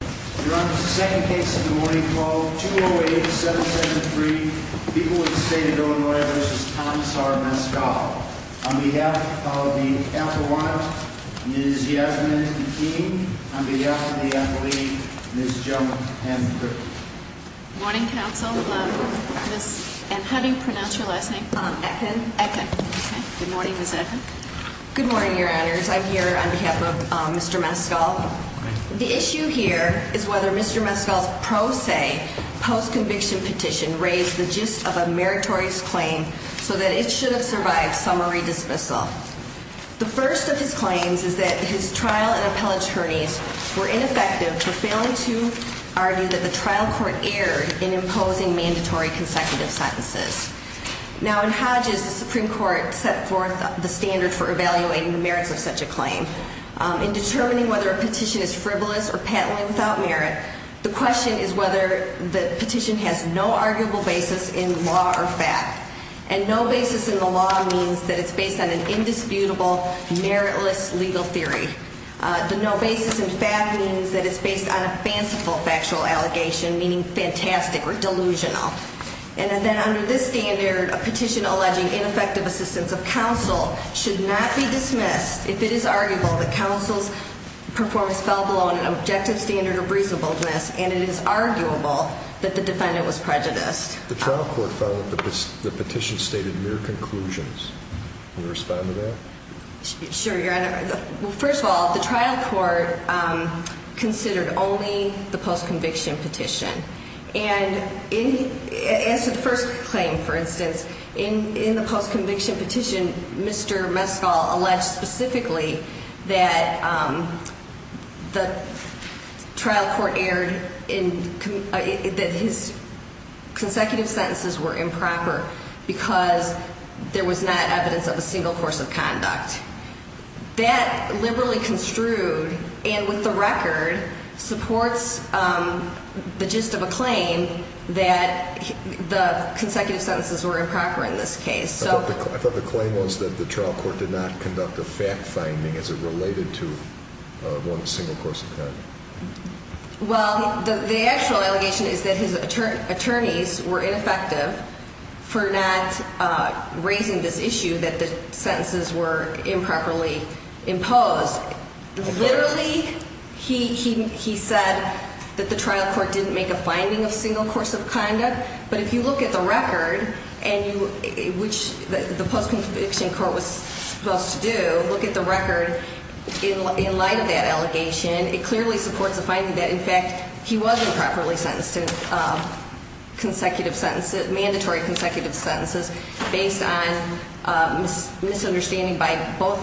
Your Honor, this is the second case of the morning, Clause 208-773, People of the State of Illinois v. Thomas R. Mescall, on behalf of the Ethel Watt, Ms. Yasmin, and the team, on behalf of the athlete, Ms. Joan M. Griffin. Good morning, counsel. And how do you pronounce your last name? Ekun. Ekun. Good morning, Ms. Ekun. Good morning, Your Honors. I'm here on behalf of Mr. Mescall. The issue here is whether Mr. Mescall's pro se, post-conviction petition raised the gist of a meritorious claim so that it should have survived summary dismissal. The first of his claims is that his trial and appellate attorneys were ineffective for failing to argue that the trial court erred in imposing mandatory consecutive sentences. Now, in Hodges, the Supreme Court set forth the standard for evaluating the merits of such a claim. In determining whether a petition is frivolous or patently without merit, the question is whether the petition has no arguable basis in law or fact. And no basis in the law means that it's based on an indisputable, meritless legal theory. The no basis in fact means that it's based on a fanciful factual allegation, meaning fantastic or delusional. And then under this standard, a petition alleging ineffective assistance of counsel should not be dismissed if it is arguable that counsel's performance fell below an objective standard of reasonableness and it is arguable that the defendant was prejudiced. The trial court found that the petition stated mere conclusions. Can you respond to that? Sure, Your Honor. Well, first of all, the trial court considered only the post-conviction petition. And as to the first claim, for instance, in the post-conviction petition, Mr. Meskal alleged specifically that the trial court erred in that his consecutive sentences were improper because there was not evidence of a single course of conduct. That liberally construed and with the record supports the gist of a claim that the consecutive sentences were improper in this case. I thought the claim was that the trial court did not conduct a fact finding as it related to one single course of conduct. Well, the actual allegation is that his attorneys were ineffective for not raising this issue that the sentences were improperly imposed. Literally, he said that the trial court didn't make a finding of single course of conduct, but if you look at the record, which the post-conviction court was supposed to do, look at the record in light of that allegation, it clearly supports the finding that, in fact, he was improperly sentenced to mandatory consecutive sentences based on misunderstanding by both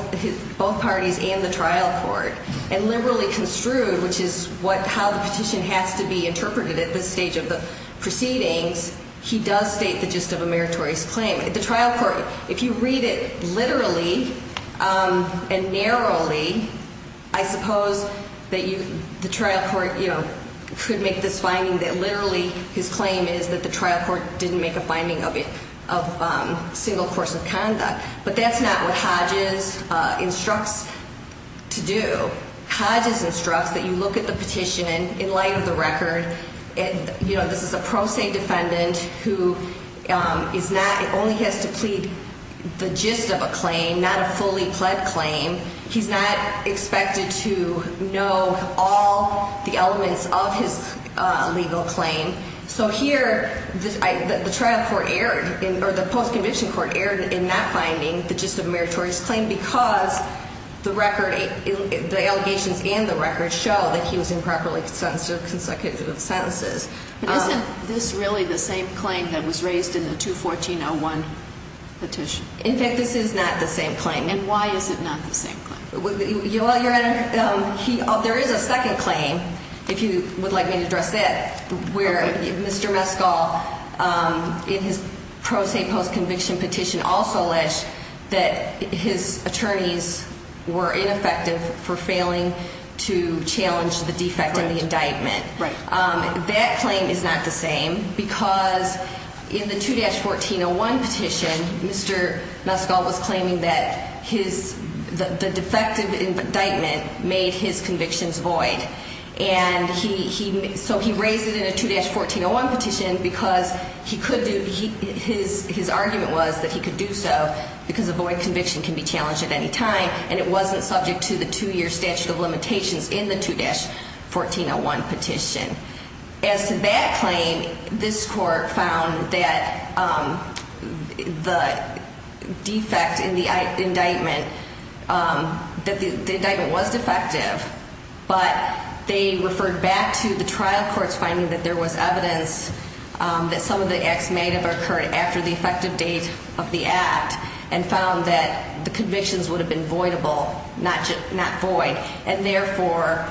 parties and the trial court. And liberally construed, which is how the petition has to be interpreted at this stage of the proceedings, he does state the gist of a meritorious claim. If you read it literally and narrowly, I suppose that the trial court could make this finding that literally his claim is that the trial court didn't make a finding of single course of conduct. But that's not what Hodges instructs to do. Hodges instructs that you look at the petition in light of the record. This is a pro se defendant who only has to plead the gist of a claim, not a fully pled claim. He's not expected to know all the elements of his legal claim. So here, the post-conviction court erred in not finding the gist of a meritorious claim because the allegations and the record show that he was improperly sentenced to consecutive sentences. But isn't this really the same claim that was raised in the 214-01 petition? In fact, this is not the same claim. And why is it not the same claim? Your Honor, there is a second claim, if you would like me to address that. Where Mr. Mescal, in his pro se post-conviction petition, also alleged that his attorneys were ineffective for failing to challenge the defect in the indictment. That claim is not the same because in the 2-1401 petition, Mr. Mescal was claiming that the defective indictment made his convictions void. So he raised it in a 2-1401 petition because his argument was that he could do so because a void conviction can be challenged at any time. And it wasn't subject to the two-year statute of limitations in the 2-1401 petition. As to that claim, this court found that the defect in the indictment, that the indictment was defective. But they referred back to the trial courts finding that there was evidence that some of the acts may have occurred after the effective date of the act. And found that the convictions would have been voidable, not void. And therefore,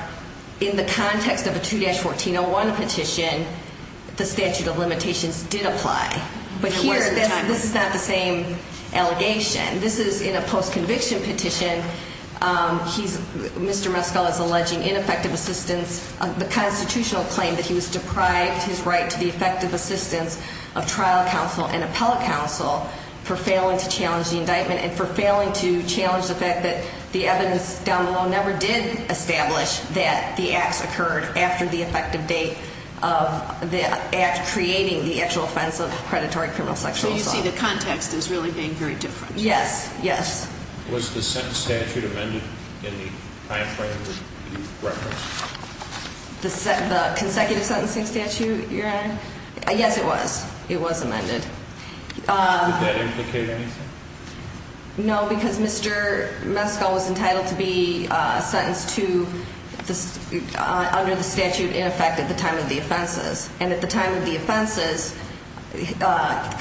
in the context of a 2-1401 petition, the statute of limitations did apply. But here, this is not the same allegation. This is in a post-conviction petition. Mr. Mescal is alleging ineffective assistance, the constitutional claim that he was deprived his right to the effective assistance of trial counsel and appellate counsel for failing to challenge the indictment and for failing to challenge the fact that the evidence down below never did establish that the acts occurred after the effective date of the act creating the actual offense of predatory criminal sexual assault. So you see the context is really being very different. Yes. Yes. Was the sentence statute amended in the time frame that you referenced? The consecutive sentencing statute, Your Honor? Yes, it was. It was amended. Did that implicate anything? No, because Mr. Mescal was entitled to be sentenced under the statute in effect at the time of the offenses. And at the time of the offenses,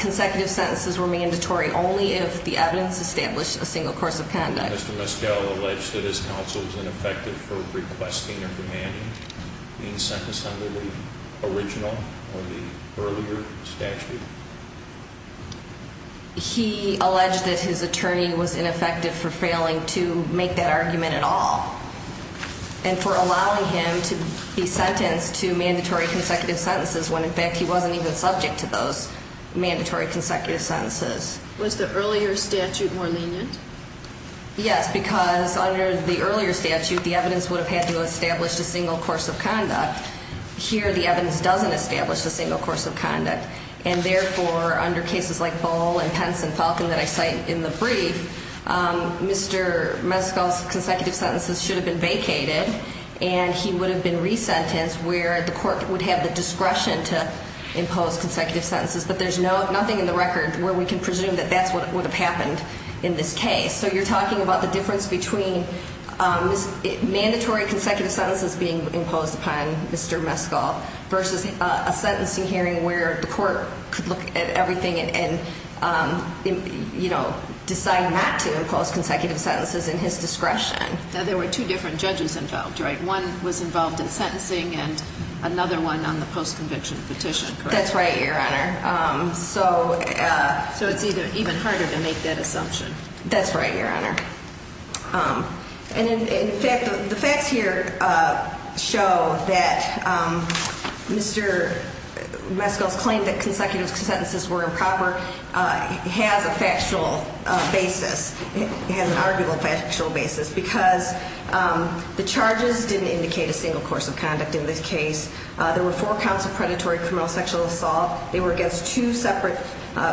consecutive sentences were mandatory only if the evidence established a single course of conduct. Did Mr. Mescal allege that his counsel was ineffective for requesting or demanding being sentenced under the original or the earlier statute? He alleged that his attorney was ineffective for failing to make that argument at all and for allowing him to be sentenced to mandatory consecutive sentences when, in fact, he wasn't even subject to those mandatory consecutive sentences. Was the earlier statute more lenient? Yes, because under the earlier statute, the evidence would have had to have established a single course of conduct. Here, the evidence doesn't establish a single course of conduct. And therefore, under cases like Bohl and Pence and Falcon that I cite in the brief, Mr. Mescal's consecutive sentences should have been vacated, and he would have been resentenced where the court would have the discretion to impose consecutive sentences. But there's nothing in the record where we can presume that that's what would have happened in this case. So you're talking about the difference between mandatory consecutive sentences being imposed upon Mr. Mescal versus a sentencing hearing where the court could look at everything and decide not to impose consecutive sentences in his discretion. There were two different judges involved, right? One was involved in sentencing and another one on the post-conviction petition, correct? That's right, Your Honor. So it's even harder to make that assumption. That's right, Your Honor. And, in fact, the facts here show that Mr. Mescal's claim that consecutive sentences were improper has a factual basis. It has an arguable factual basis because the charges didn't indicate a single course of conduct in this case. There were four counts of predatory criminal sexual assault. They were against two separate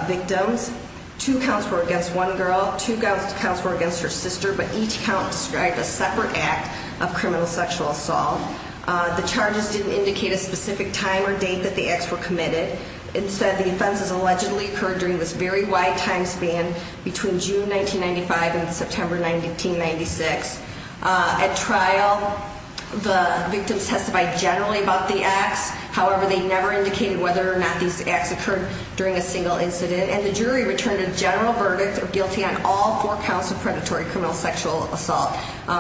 victims. Two counts were against one girl, two counts were against her sister, but each count described a separate act of criminal sexual assault. The charges didn't indicate a specific time or date that the acts were committed. Instead, the offenses allegedly occurred during this very wide time span between June 1995 and September 1996. At trial, the victims testified generally about the acts. However, they never indicated whether or not these acts occurred during a single incident. And the jury returned a general verdict of guilty on all four counts of predatory criminal sexual assault.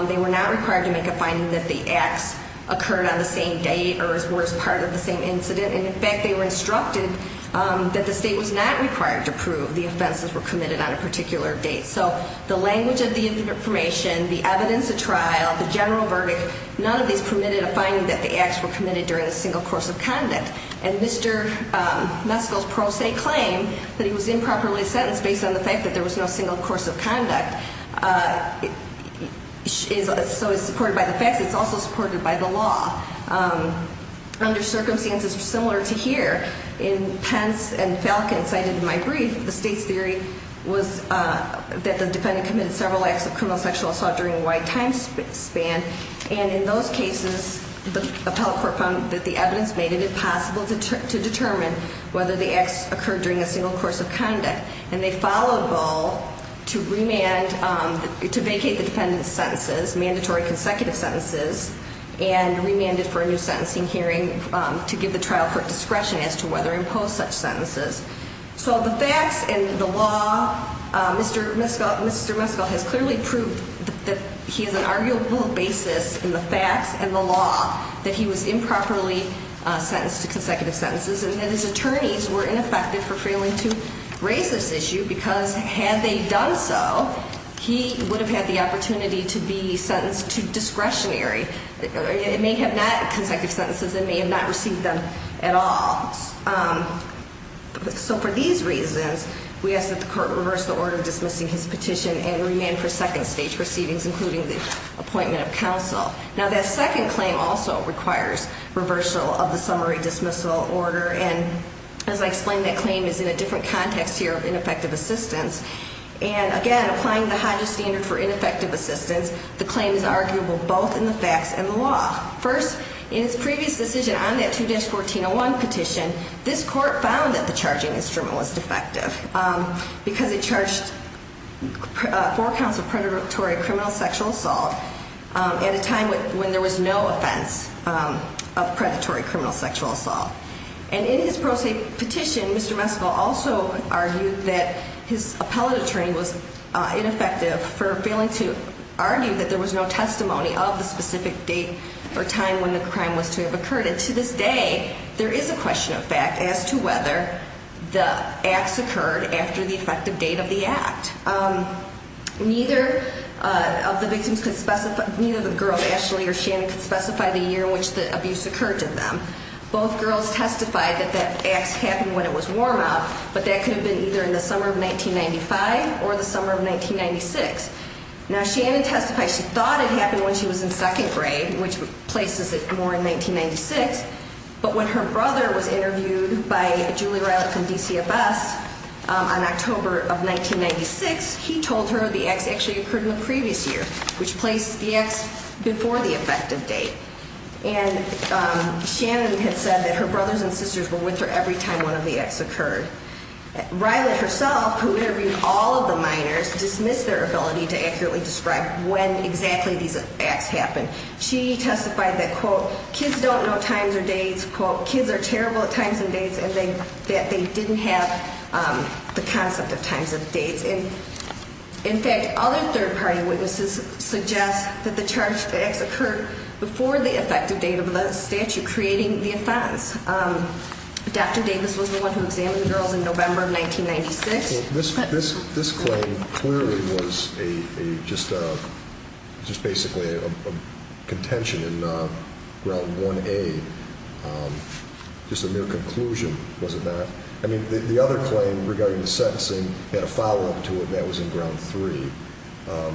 They were not required to make a finding that the acts occurred on the same date or were as part of the same incident. And, in fact, they were instructed that the state was not required to prove the offenses were committed on a particular date. So the language of the information, the evidence at trial, the general verdict, none of these permitted a finding that the acts were committed during a single course of conduct. And Mr. Meskel's pro se claim that he was improperly sentenced based on the fact that there was no single course of conduct is supported by the facts. It's also supported by the law. Under circumstances similar to here, in Pence and Falcon cited in my brief, the state's theory was that the defendant committed several acts of criminal sexual assault during a wide time span. And in those cases, the appellate court found that the evidence made it impossible to determine whether the acts occurred during a single course of conduct. And they filed a bill to remand, to vacate the defendant's sentences, mandatory consecutive sentences, and remanded for a new sentencing hearing to give the trial court discretion as to whether to impose such sentences. So the facts and the law, Mr. Meskel has clearly proved that he has an arguable basis in the facts and the law that he was improperly sentenced to consecutive sentences. And that his attorneys were ineffective for failing to raise this issue because had they done so, he would have had the opportunity to be sentenced to discretionary. It may have not, consecutive sentences, it may have not received them at all. So for these reasons, we ask that the court reverse the order dismissing his petition and remand for second stage proceedings, including the appointment of counsel. Now that second claim also requires reversal of the summary dismissal order. And as I explained, that claim is in a different context here of ineffective assistance. And again, applying the Hodges standard for ineffective assistance, the claim is arguable both in the facts and the law. First, in his previous decision on that 2-1401 petition, this court found that the charging instrument was defective because it charged four counts of predatory criminal sexual assault at a time when there was no offense of predatory criminal sexual assault. And in his pro se petition, Mr. Meskel also argued that his appellate attorney was ineffective for failing to argue that there was no testimony of the specific date or time when the crime was to have occurred. And to this day, there is a question of fact as to whether the acts occurred after the effective date of the act. Neither of the victims could specify, neither of the girls, Ashley or Shannon, could specify the year in which the abuse occurred to them. Both girls testified that that acts happened when it was warm up, but that could have been either in the summer of 1995 or the summer of 1996. Now, Shannon testified she thought it happened when she was in second grade, which places it more in 1996. But when her brother was interviewed by Julie Rilett from DCFS on October of 1996, he told her the acts actually occurred in the previous year, which placed the acts before the effective date. And Shannon had said that her brothers and sisters were with her every time one of the acts occurred. Rilett herself, who interviewed all of the minors, dismissed their ability to accurately describe when exactly these acts happened. She testified that, quote, kids don't know times or dates, quote, kids are terrible at times and dates, and that they didn't have the concept of times and dates. And in fact, other third party witnesses suggest that the charged acts occurred before the effective date of the statute creating the offense. Dr. Davis was the one who examined the girls in November of 1996. This claim clearly was just basically a contention in Ground 1A, just a mere conclusion, was it not? I mean, the other claim regarding the sentencing had a follow-up to it, and that was in Ground 3.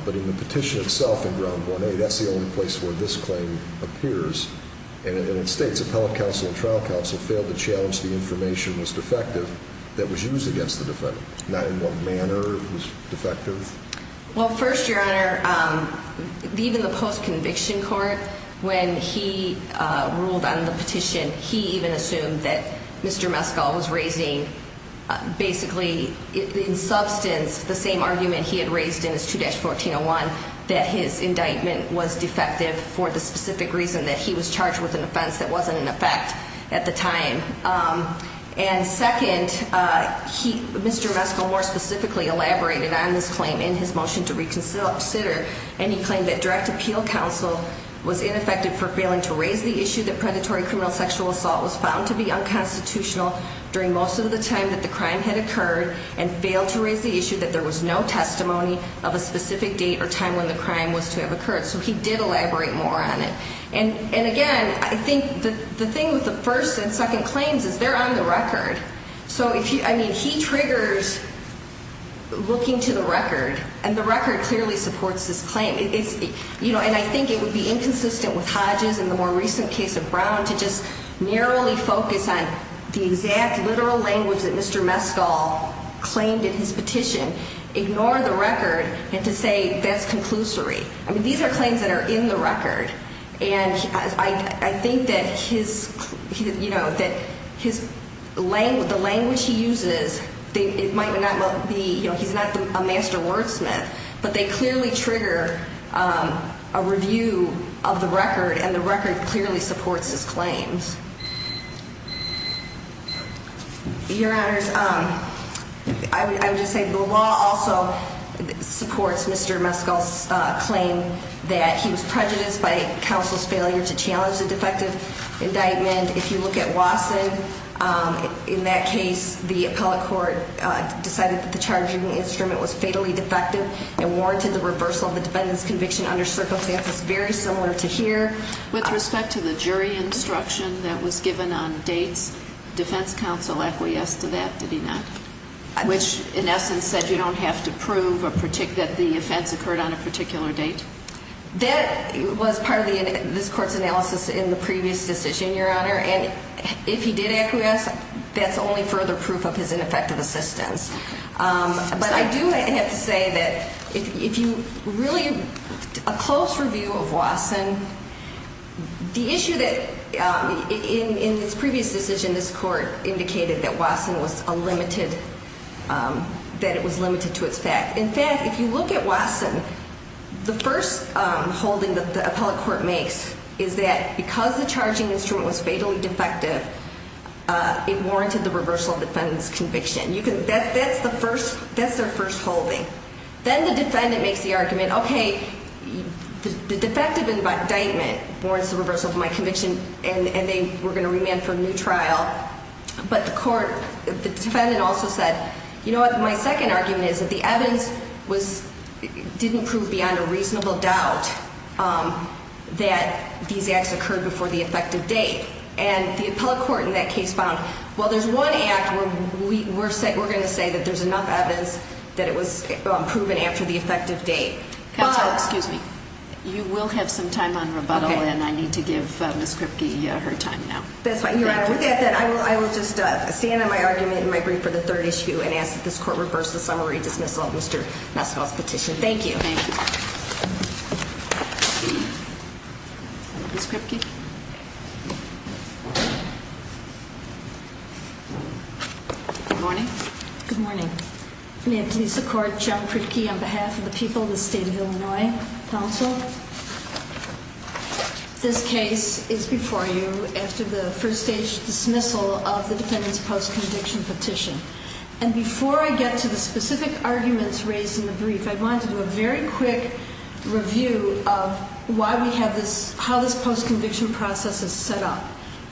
But in the petition itself in Ground 1A, that's the only place where this claim appears. And it states appellate counsel and trial counsel failed to challenge the information that was defective that was used against the defendant. Not in what manner it was defective. Well, first, Your Honor, even the post-conviction court, when he ruled on the petition, he even assumed that Mr. Mescal was raising basically in substance the same argument he had raised in his 2-1401, that his indictment was defective for the specific reason that he was charged with an offense that wasn't in effect at the time. And second, Mr. Mescal more specifically elaborated on this claim in his motion to reconsider, and he claimed that direct appeal counsel was ineffective for failing to raise the issue that predatory criminal sexual assault was found to be unconstitutional during most of the time that the crime had occurred and failed to raise the issue that there was no testimony of a specific date or time when the crime was to have occurred. So he did elaborate more on it. And, again, I think the thing with the first and second claims is they're on the record. So, I mean, he triggers looking to the record, and the record clearly supports this claim. And I think it would be inconsistent with Hodges in the more recent case of Brown to just narrowly focus on the exact literal language that Mr. Mescal claimed in his petition, ignore the record, and to say that's conclusory. I mean, these are claims that are in the record, and I think that the language he uses, it might not be he's not a master wordsmith, but they clearly trigger a review of the record, and the record clearly supports his claims. Your Honors, I would just say the law also supports Mr. Mescal's claim that he was prejudiced by counsel's failure to challenge the defective indictment. If you look at Wasson, in that case, the appellate court decided that the charging instrument was fatally defective and warranted the reversal of the defendant's conviction under circumstances very similar to here. With respect to the jury instruction that was given on dates, defense counsel acquiesced to that, did he not? Which, in essence, said you don't have to prove that the offense occurred on a particular date. That was part of this court's analysis in the previous decision, Your Honor, and if he did acquiesce, that's only further proof of his ineffective assistance. But I do have to say that if you really, a close review of Wasson, the issue that in this previous decision, this court indicated that Wasson was a limited, that it was limited to its fact. In fact, if you look at Wasson, the first holding that the appellate court makes is that because the charging instrument was fatally defective, it warranted the reversal of the defendant's conviction. That's their first holding. Then the defendant makes the argument, okay, the defective indictment warrants the reversal of my conviction, and they were going to remand for a new trial. But the defendant also said, you know what, my second argument is that the evidence didn't prove beyond a reasonable doubt that these acts occurred before the effective date. And the appellate court in that case found, well, there's one act where we're going to say that there's enough evidence that it was proven after the effective date. Counsel, excuse me. You will have some time on rebuttal, and I need to give Ms. Kripke her time now. That's fine. I will just stand on my argument in my brief for the third issue and ask that this court reverse the summary dismissal of Mr. Maskell's petition. Thank you. Thank you. Ms. Kripke? Good morning. Good morning. May it please the court, John Kripke on behalf of the people of the state of Illinois. Counsel? This case is before you after the first-stage dismissal of the defendant's post-conviction petition. And before I get to the specific arguments raised in the brief, I wanted to do a very quick review of why we have this, how this post-conviction process is set up.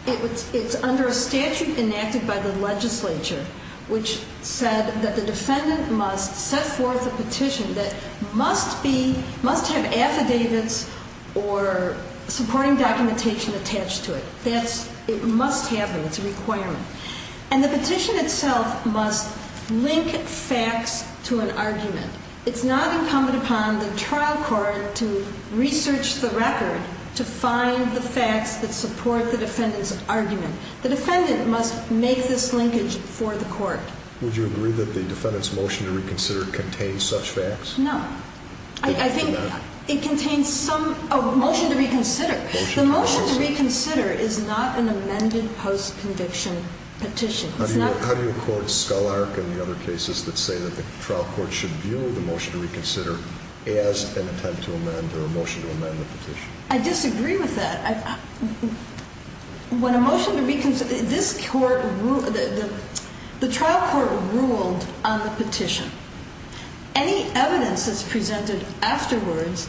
It's under a statute enacted by the legislature which said that the defendant must set forth a petition that must have affidavits or supporting documentation attached to it. It must have them. It's a requirement. And the petition itself must link facts to an argument. It's not incumbent upon the trial court to research the record to find the facts that support the defendant's argument. The defendant must make this linkage for the court. Would you agree that the defendant's motion to reconsider contains such facts? No. I think it contains some – a motion to reconsider. The motion to reconsider is not an amended post-conviction petition. How do you quote Scholark and the other cases that say that the trial court should view the motion to reconsider as an attempt to amend or a motion to amend the petition? I disagree with that. When a motion to reconsider – this court – the trial court ruled on the petition. Any evidence that's presented afterwards,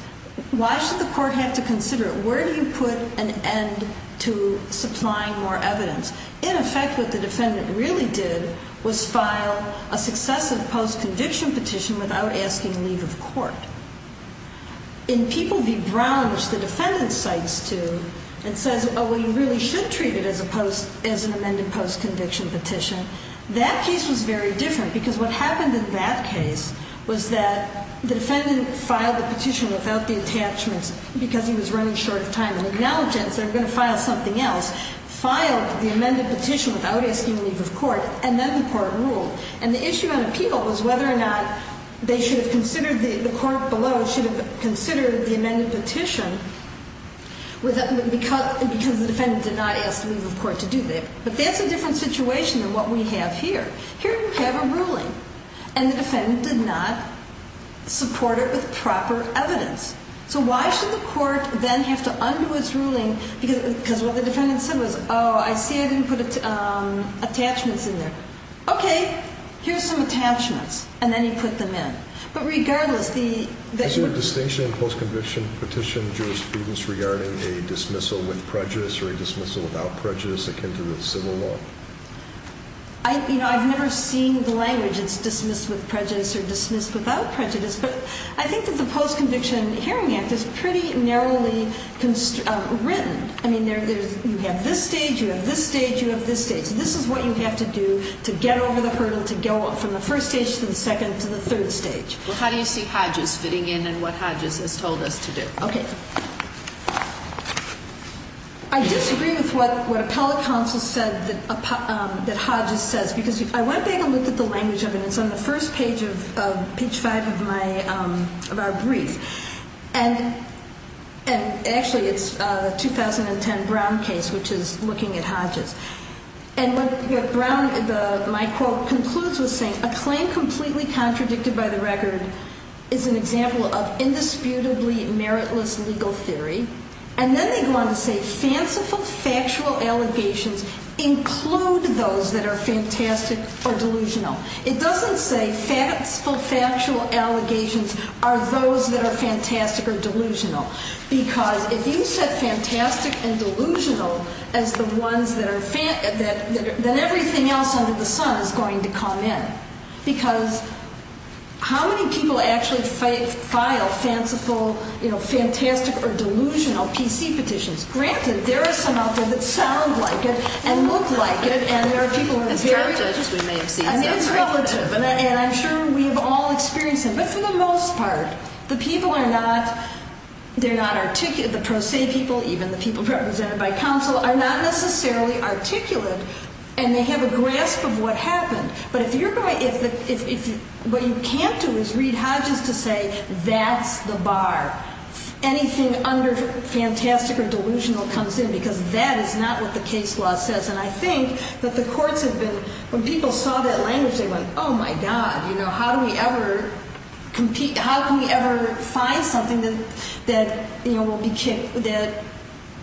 why should the court have to consider it? Where do you put an end to supplying more evidence? In effect, what the defendant really did was file a successive post-conviction petition without asking leave of court. In People v. Brown, which the defendant cites two and says, oh, well, you really should treat it as an amended post-conviction petition, that case was very different because what happened in that case was that the defendant filed the petition without the attachments because he was running short of time. They're going to file something else, filed the amended petition without asking leave of court, and then the court ruled. And the issue on appeal was whether or not they should have considered – the court below should have considered the amended petition because the defendant did not ask leave of court to do that. But that's a different situation than what we have here. Here you have a ruling, and the defendant did not support it with proper evidence. So why should the court then have to undo its ruling because what the defendant said was, oh, I see I didn't put attachments in there. Okay, here's some attachments, and then he put them in. But regardless, the – Is there a distinction in post-conviction petition jurisprudence regarding a dismissal with prejudice or a dismissal without prejudice akin to the civil law? You know, I've never seen the language, it's dismissed with prejudice or dismissed without prejudice. But I think that the Post-Conviction Hearing Act is pretty narrowly written. I mean, you have this stage, you have this stage, you have this stage. This is what you have to do to get over the hurdle to go from the first stage to the second to the third stage. Well, how do you see Hodges fitting in and what Hodges has told us to do? Okay. I disagree with what appellate counsel said that Hodges says because I went back and looked at the language of it. It's on the first page of page 5 of my – of our brief. And actually, it's the 2010 Brown case, which is looking at Hodges. And what Brown – my quote concludes with saying, A claim completely contradicted by the record is an example of indisputably meritless legal theory. And then they go on to say, Fanciful factual allegations include those that are fantastic or delusional. It doesn't say fanciful factual allegations are those that are fantastic or delusional. Because if you said fantastic and delusional as the ones that are – that everything else under the sun is going to come in, because how many people actually file fanciful, you know, fantastic or delusional PC petitions? Granted, there are some out there that sound like it and look like it, and there are people who are very – And there are judges we may have seen. I mean, it's relative. And I'm sure we have all experienced it. But for the most part, the people are not – they're not – the pro se people, even the people represented by counsel, are not necessarily articulate, and they have a grasp of what happened. But if you're going – if – what you can't do is read Hodges to say that's the bar. Anything under fantastic or delusional comes in, because that is not what the case law says. And I think that the courts have been – when people saw that language, they went, Oh, my God, you know, how do we ever compete – how can we ever find something that, you know, won't be kicked –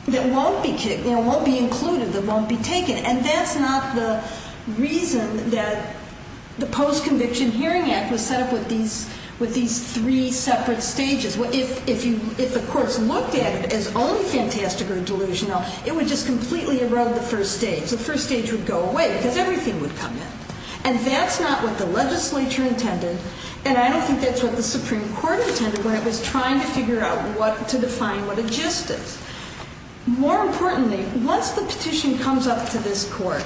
that won't be kicked, you know, won't be included, that won't be taken. And that's not the reason that the Post-Conviction Hearing Act was set up with these three separate stages. If the courts looked at it as only fantastic or delusional, it would just completely erode the first stage. The first stage would go away because everything would come in. And that's not what the legislature intended, and I don't think that's what the Supreme Court intended when it was trying to figure out what – to define what a gist is. More importantly, once the petition comes up to this court,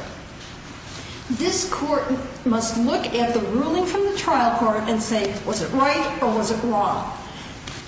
this court must look at the ruling from the trial court and say, Was it right or was it wrong?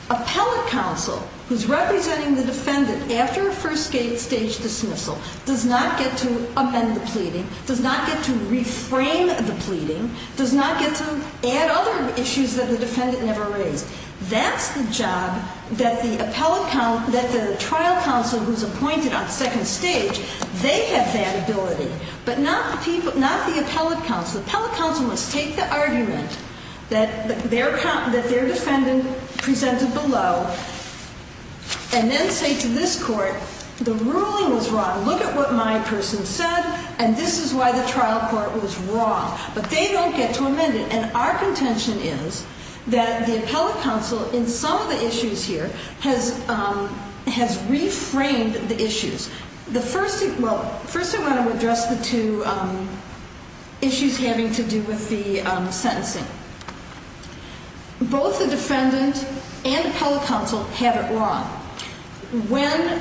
Appellate counsel, who's representing the defendant after a first-stage dismissal, does not get to amend the pleading, does not get to reframe the pleading, does not get to add other issues that the defendant never raised. That's the job that the appellate – that the trial counsel who's appointed on second stage, they have that ability, but not the appellate counsel. The appellate counsel must take the argument that their defendant presented below and then say to this court, The ruling was wrong. Look at what my person said, and this is why the trial court was wrong. But they don't get to amend it, and our contention is that the appellate counsel, in some of the issues here, has reframed the issues. The first – well, first I want to address the two issues having to do with the sentencing. Both the defendant and appellate counsel have it wrong. When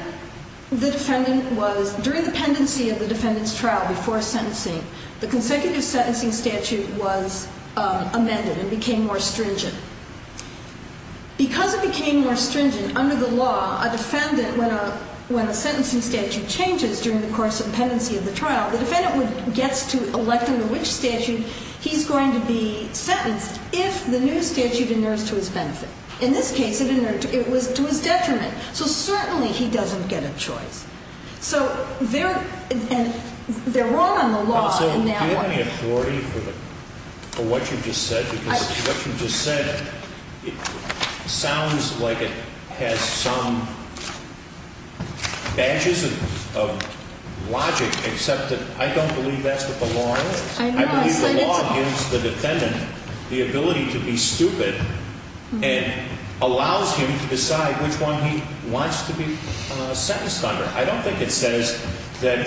the defendant was – during the pendency of the defendant's trial before sentencing, the consecutive sentencing statute was amended and became more stringent. Because it became more stringent, under the law, a defendant, when a sentencing statute changes during the course of the pendency of the trial, the defendant gets to elect under which statute he's going to be sentenced if the new statute inerts to his benefit. In this case, it was to his detriment. So certainly he doesn't get a choice. So there – and they're wrong on the law in that way. Do you have any authority for what you just said? Because what you just said, it sounds like it has some edges of logic, except that I don't believe that's what the law is. I believe the law gives the defendant the ability to be stupid and allows him to decide which one he wants to be sentenced under. I don't think it says that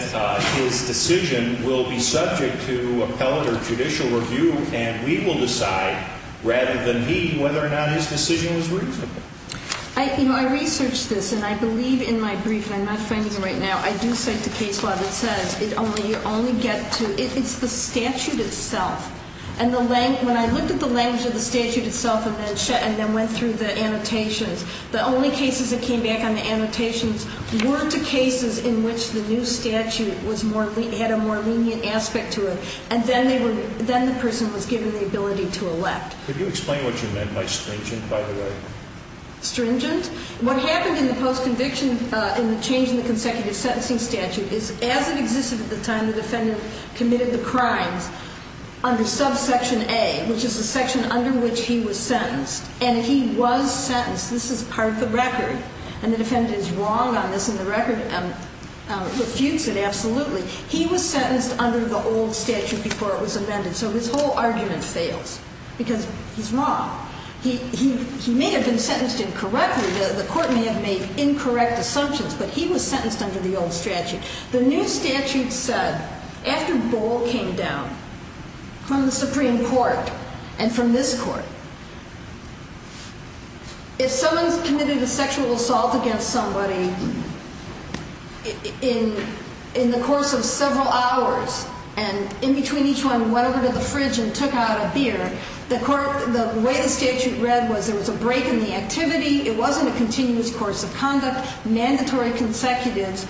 his decision will be subject to appellate or judicial review and we will decide, rather than he, whether or not his decision was reasonable. You know, I researched this, and I believe in my brief, and I'm not finding it right now, I do cite the case law that says you only get to – it's the statute itself. And the – when I looked at the language of the statute itself and then went through the annotations, the only cases that came back on the annotations were to cases in which the new statute was more – had a more lenient aspect to it, and then they were – then the person was given the ability to elect. Could you explain what you meant by stringent, by the way? Stringent? What happened in the post-conviction in the change in the consecutive sentencing statute is, as it existed at the time the defendant committed the crimes under subsection A, which is the section under which he was sentenced, and he was sentenced. This is part of the record, and the defendant is wrong on this, and the record refutes it absolutely. He was sentenced under the old statute before it was amended, so his whole argument fails because he's wrong. He may have been sentenced incorrectly. The court may have made incorrect assumptions, but he was sentenced under the old statute. The new statute said, after Boal came down from the Supreme Court and from this Court, if someone's committed a sexual assault against somebody in the course of several hours and in between each one went over to the fridge and took out a beer, the way the statute read was there was a break in the activity. It wasn't a continuous course of conduct. Mandatory consecutives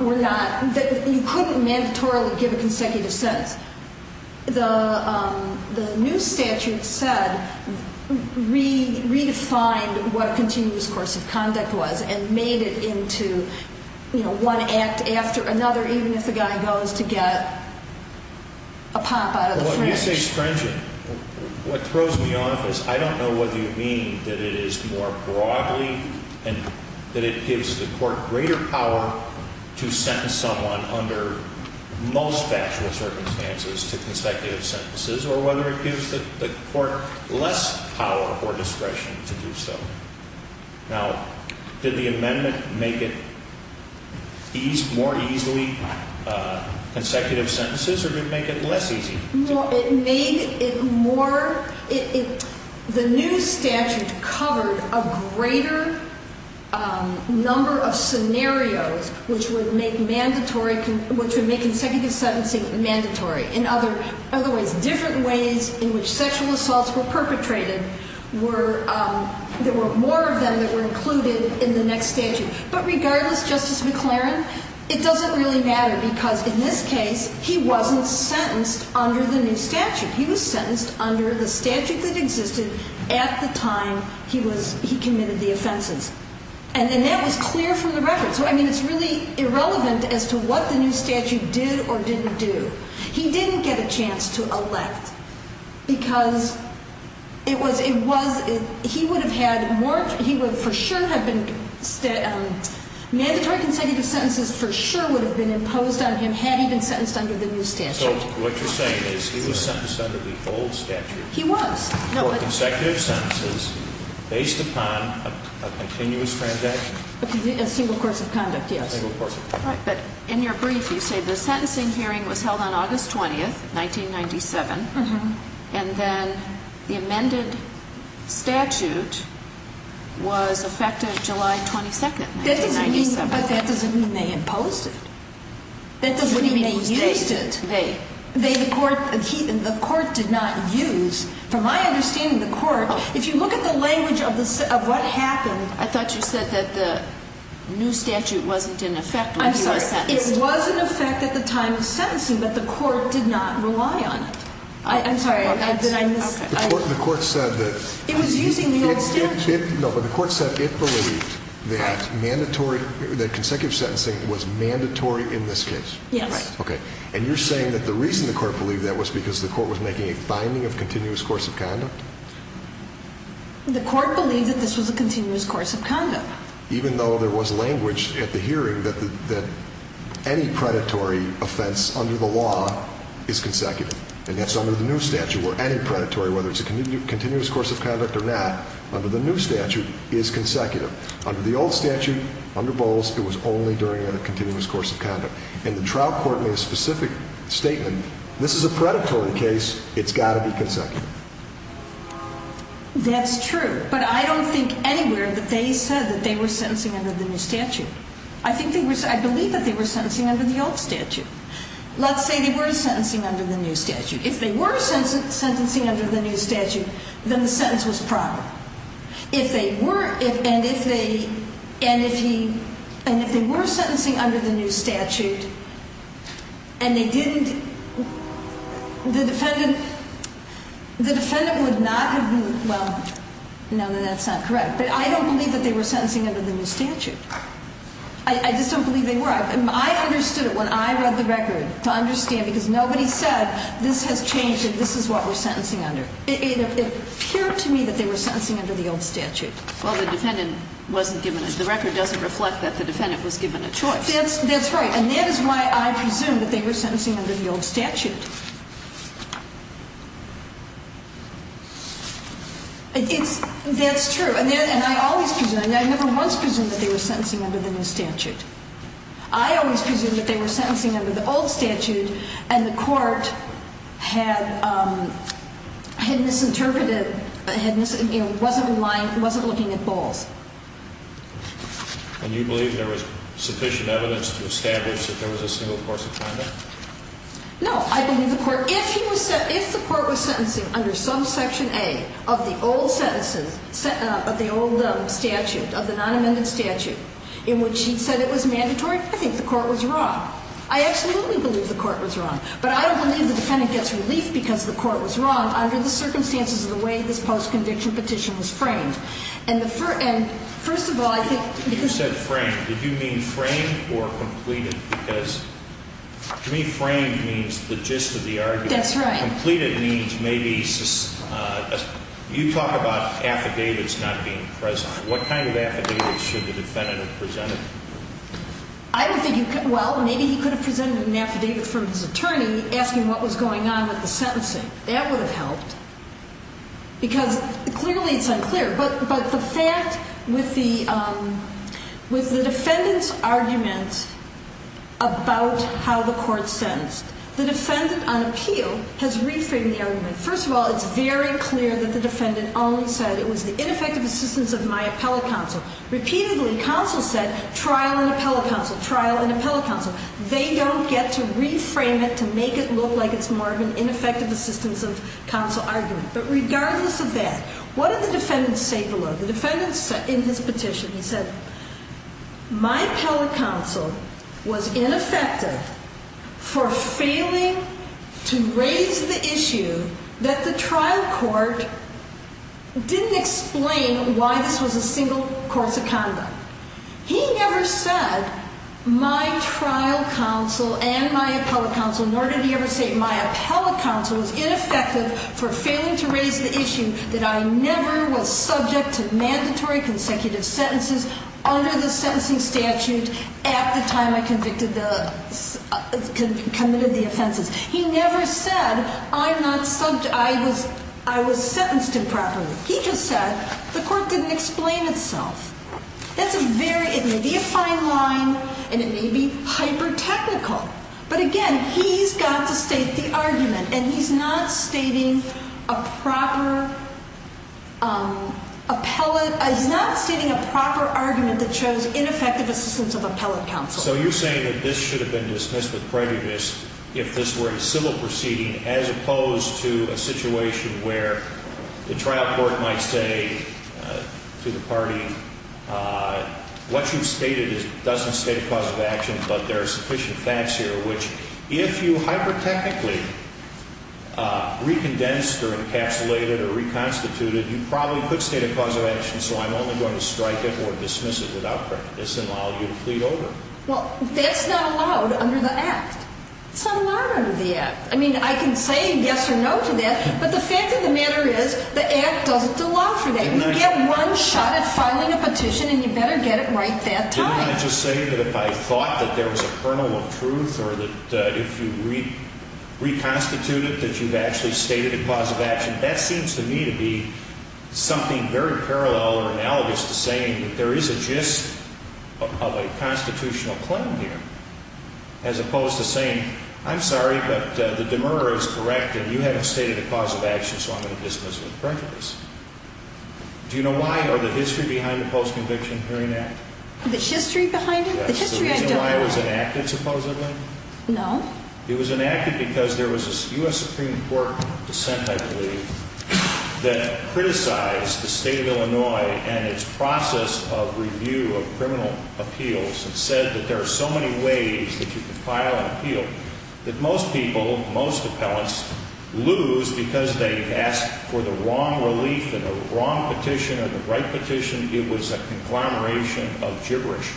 were not – you couldn't mandatorily give a consecutive sentence. The new statute said, redefined what a continuous course of conduct was and made it into one act after another, even if the guy goes to get a pop out of the fridge. When you say stringent, what throws me off is I don't know whether you mean that it is more broadly and that it gives the court greater power to sentence someone under most factual circumstances to consecutive sentences or whether it gives the court less power or discretion to do so. Now, did the amendment make it more easily consecutive sentences or did it make it less easy? It made it more – the new statute covered a greater number of scenarios which would make mandatory – which would make consecutive sentencing mandatory. In other ways, different ways in which sexual assaults were perpetrated were – there were more of them that were included in the next statute. But regardless, Justice McLaren, it doesn't really matter because in this case, he wasn't sentenced under the new statute. He was sentenced under the statute that existed at the time he was – he committed the offenses. And that was clear from the record. So, I mean, it's really irrelevant as to what the new statute did or didn't do. He didn't get a chance to elect because it was – he would have had more – he would for sure have been – mandatory consecutive sentences for sure would have been imposed on him had he been sentenced under the new statute. So, what you're saying is he was sentenced under the old statute. He was. For consecutive sentences based upon a continuous transaction. A single course of conduct, yes. A single course of conduct. Right. But in your brief, you say the sentencing hearing was held on August 20th, 1997, and then the amended statute was effective July 22nd, 1997. That doesn't mean – but that doesn't mean they imposed it. That doesn't mean they used it. What do you mean they used it? They. They, the court – the court did not use – from my understanding, the court, if you look at the language of what happened – I thought you said that the new statute wasn't in effect when he was sentenced. I'm sorry. It was in effect at the time of sentencing, but the court did not rely on it. I'm sorry. Okay. The court said that – It was using the old statute. No, but the court said it believed that mandatory – that consecutive sentencing was mandatory in this case. Yes. Okay. And you're saying that the reason the court believed that was because the court was making a finding of continuous course of conduct? The court believed that this was a continuous course of conduct. Even though there was language at the hearing that any predatory offense under the law is consecutive, and that's under the new statute, where any predatory, whether it's a continuous course of conduct or not, under the new statute, is consecutive. Under the old statute, under Bowles, it was only during a continuous course of conduct. And the trial court made a specific statement. This is a predatory case. It's got to be consecutive. That's true, but I don't think anywhere that they said that they were sentencing under the new statute. I think they were – I believe that they were sentencing under the old statute. Let's say they were sentencing under the new statute. If they were sentencing under the new statute, then the sentence was proper. If they were – and if they – and if he – and if they were sentencing under the new statute and they didn't – the defendant – the defendant would not have been – well, no, then that's not correct. But I don't believe that they were sentencing under the new statute. I just don't believe they were. That's right. I understood it when I read the record to understand because nobody said this has changed and this is what we're sentencing under. It appeared to me that they were sentencing under the old statute. Well, the defendant wasn't given – the record doesn't reflect that the defendant was given a choice. That's right. And that is why I presume that they were sentencing under the old statute. It's – that's true. And I always presume – I never once presumed that they were sentencing under the new statute. I always presumed that they were sentencing under the old statute and the court had misinterpreted – wasn't looking at balls. And you believe there was sufficient evidence to establish that there was a single course of conduct? No. I believe the court – if he was – if the court was sentencing under some section A of the old sentencing – of the old statute, of the non-amended statute, in which he said it was mandatory, I think the court was wrong. I absolutely believe the court was wrong. But I don't believe the defendant gets relief because the court was wrong under the circumstances of the way this post-conviction petition was framed. And the – and first of all, I think – You said framed. Did you mean framed or completed? Because to me framed means the gist of the argument. That's right. Completed means maybe – you talk about affidavits not being present. What kind of affidavits should the defendant have presented? I don't think you – well, maybe he could have presented an affidavit from his attorney asking what was going on with the sentencing. That would have helped. Because clearly it's unclear. But the fact with the – with the defendant's argument about how the court sentenced, the defendant on appeal has reframed the argument. First of all, it's very clear that the defendant only said it was the ineffective assistance of my appellate counsel. Repeatedly, counsel said trial and appellate counsel, trial and appellate counsel. They don't get to reframe it to make it look like it's more of an ineffective assistance of counsel argument. But regardless of that, what did the defendant say below? The defendant said in his petition, he said, my appellate counsel was ineffective for failing to raise the issue that the trial court didn't explain why this was a single course of conduct. He never said my trial counsel and my appellate counsel, nor did he ever say my appellate counsel was ineffective for failing to raise the issue that I never was subject to mandatory consecutive sentences under the sentencing statute at the time I convicted the – committed the offenses. He never said I'm not – I was sentenced improperly. He just said the court didn't explain itself. That's a very – it may be a fine line, and it may be hyper-technical. But again, he's got to state the argument, and he's not stating a proper appellate – he's not stating a proper argument that shows ineffective assistance of appellate counsel. So you're saying that this should have been dismissed with prejudice if this were a civil proceeding as opposed to a situation where the trial court might say to the party, what you've stated doesn't state a cause of action, but there are sufficient facts here which, if you hyper-technically recondensed or encapsulated or reconstituted, you probably could state a cause of action, so I'm only going to strike it or dismiss it without prejudice and allow you to plead over. Well, that's not allowed under the Act. It's not allowed under the Act. I mean, I can say yes or no to that, but the fact of the matter is the Act doesn't allow for that. You get one shot at filing a petition, and you better get it right that time. But didn't I just say that if I thought that there was a kernel of truth or that if you reconstituted that you've actually stated a cause of action, that seems to me to be something very parallel or analogous to saying that there is a gist of a constitutional claim here as opposed to saying, I'm sorry, but the demurrer is correct and you haven't stated a cause of action, so I'm going to dismiss it with prejudice. Do you know why or the history behind the Post-Conviction Hearing Act? The history behind it? Yes. The reason why it was enacted, supposedly? No. It was enacted because there was a U.S. Supreme Court dissent, I believe, that criticized the state of Illinois and its process of review of criminal appeals and said that there are so many ways that you can file an appeal that most people, most appellants, lose because they've asked for the wrong relief and the wrong petition or the right petition. It was a conglomeration of gibberish.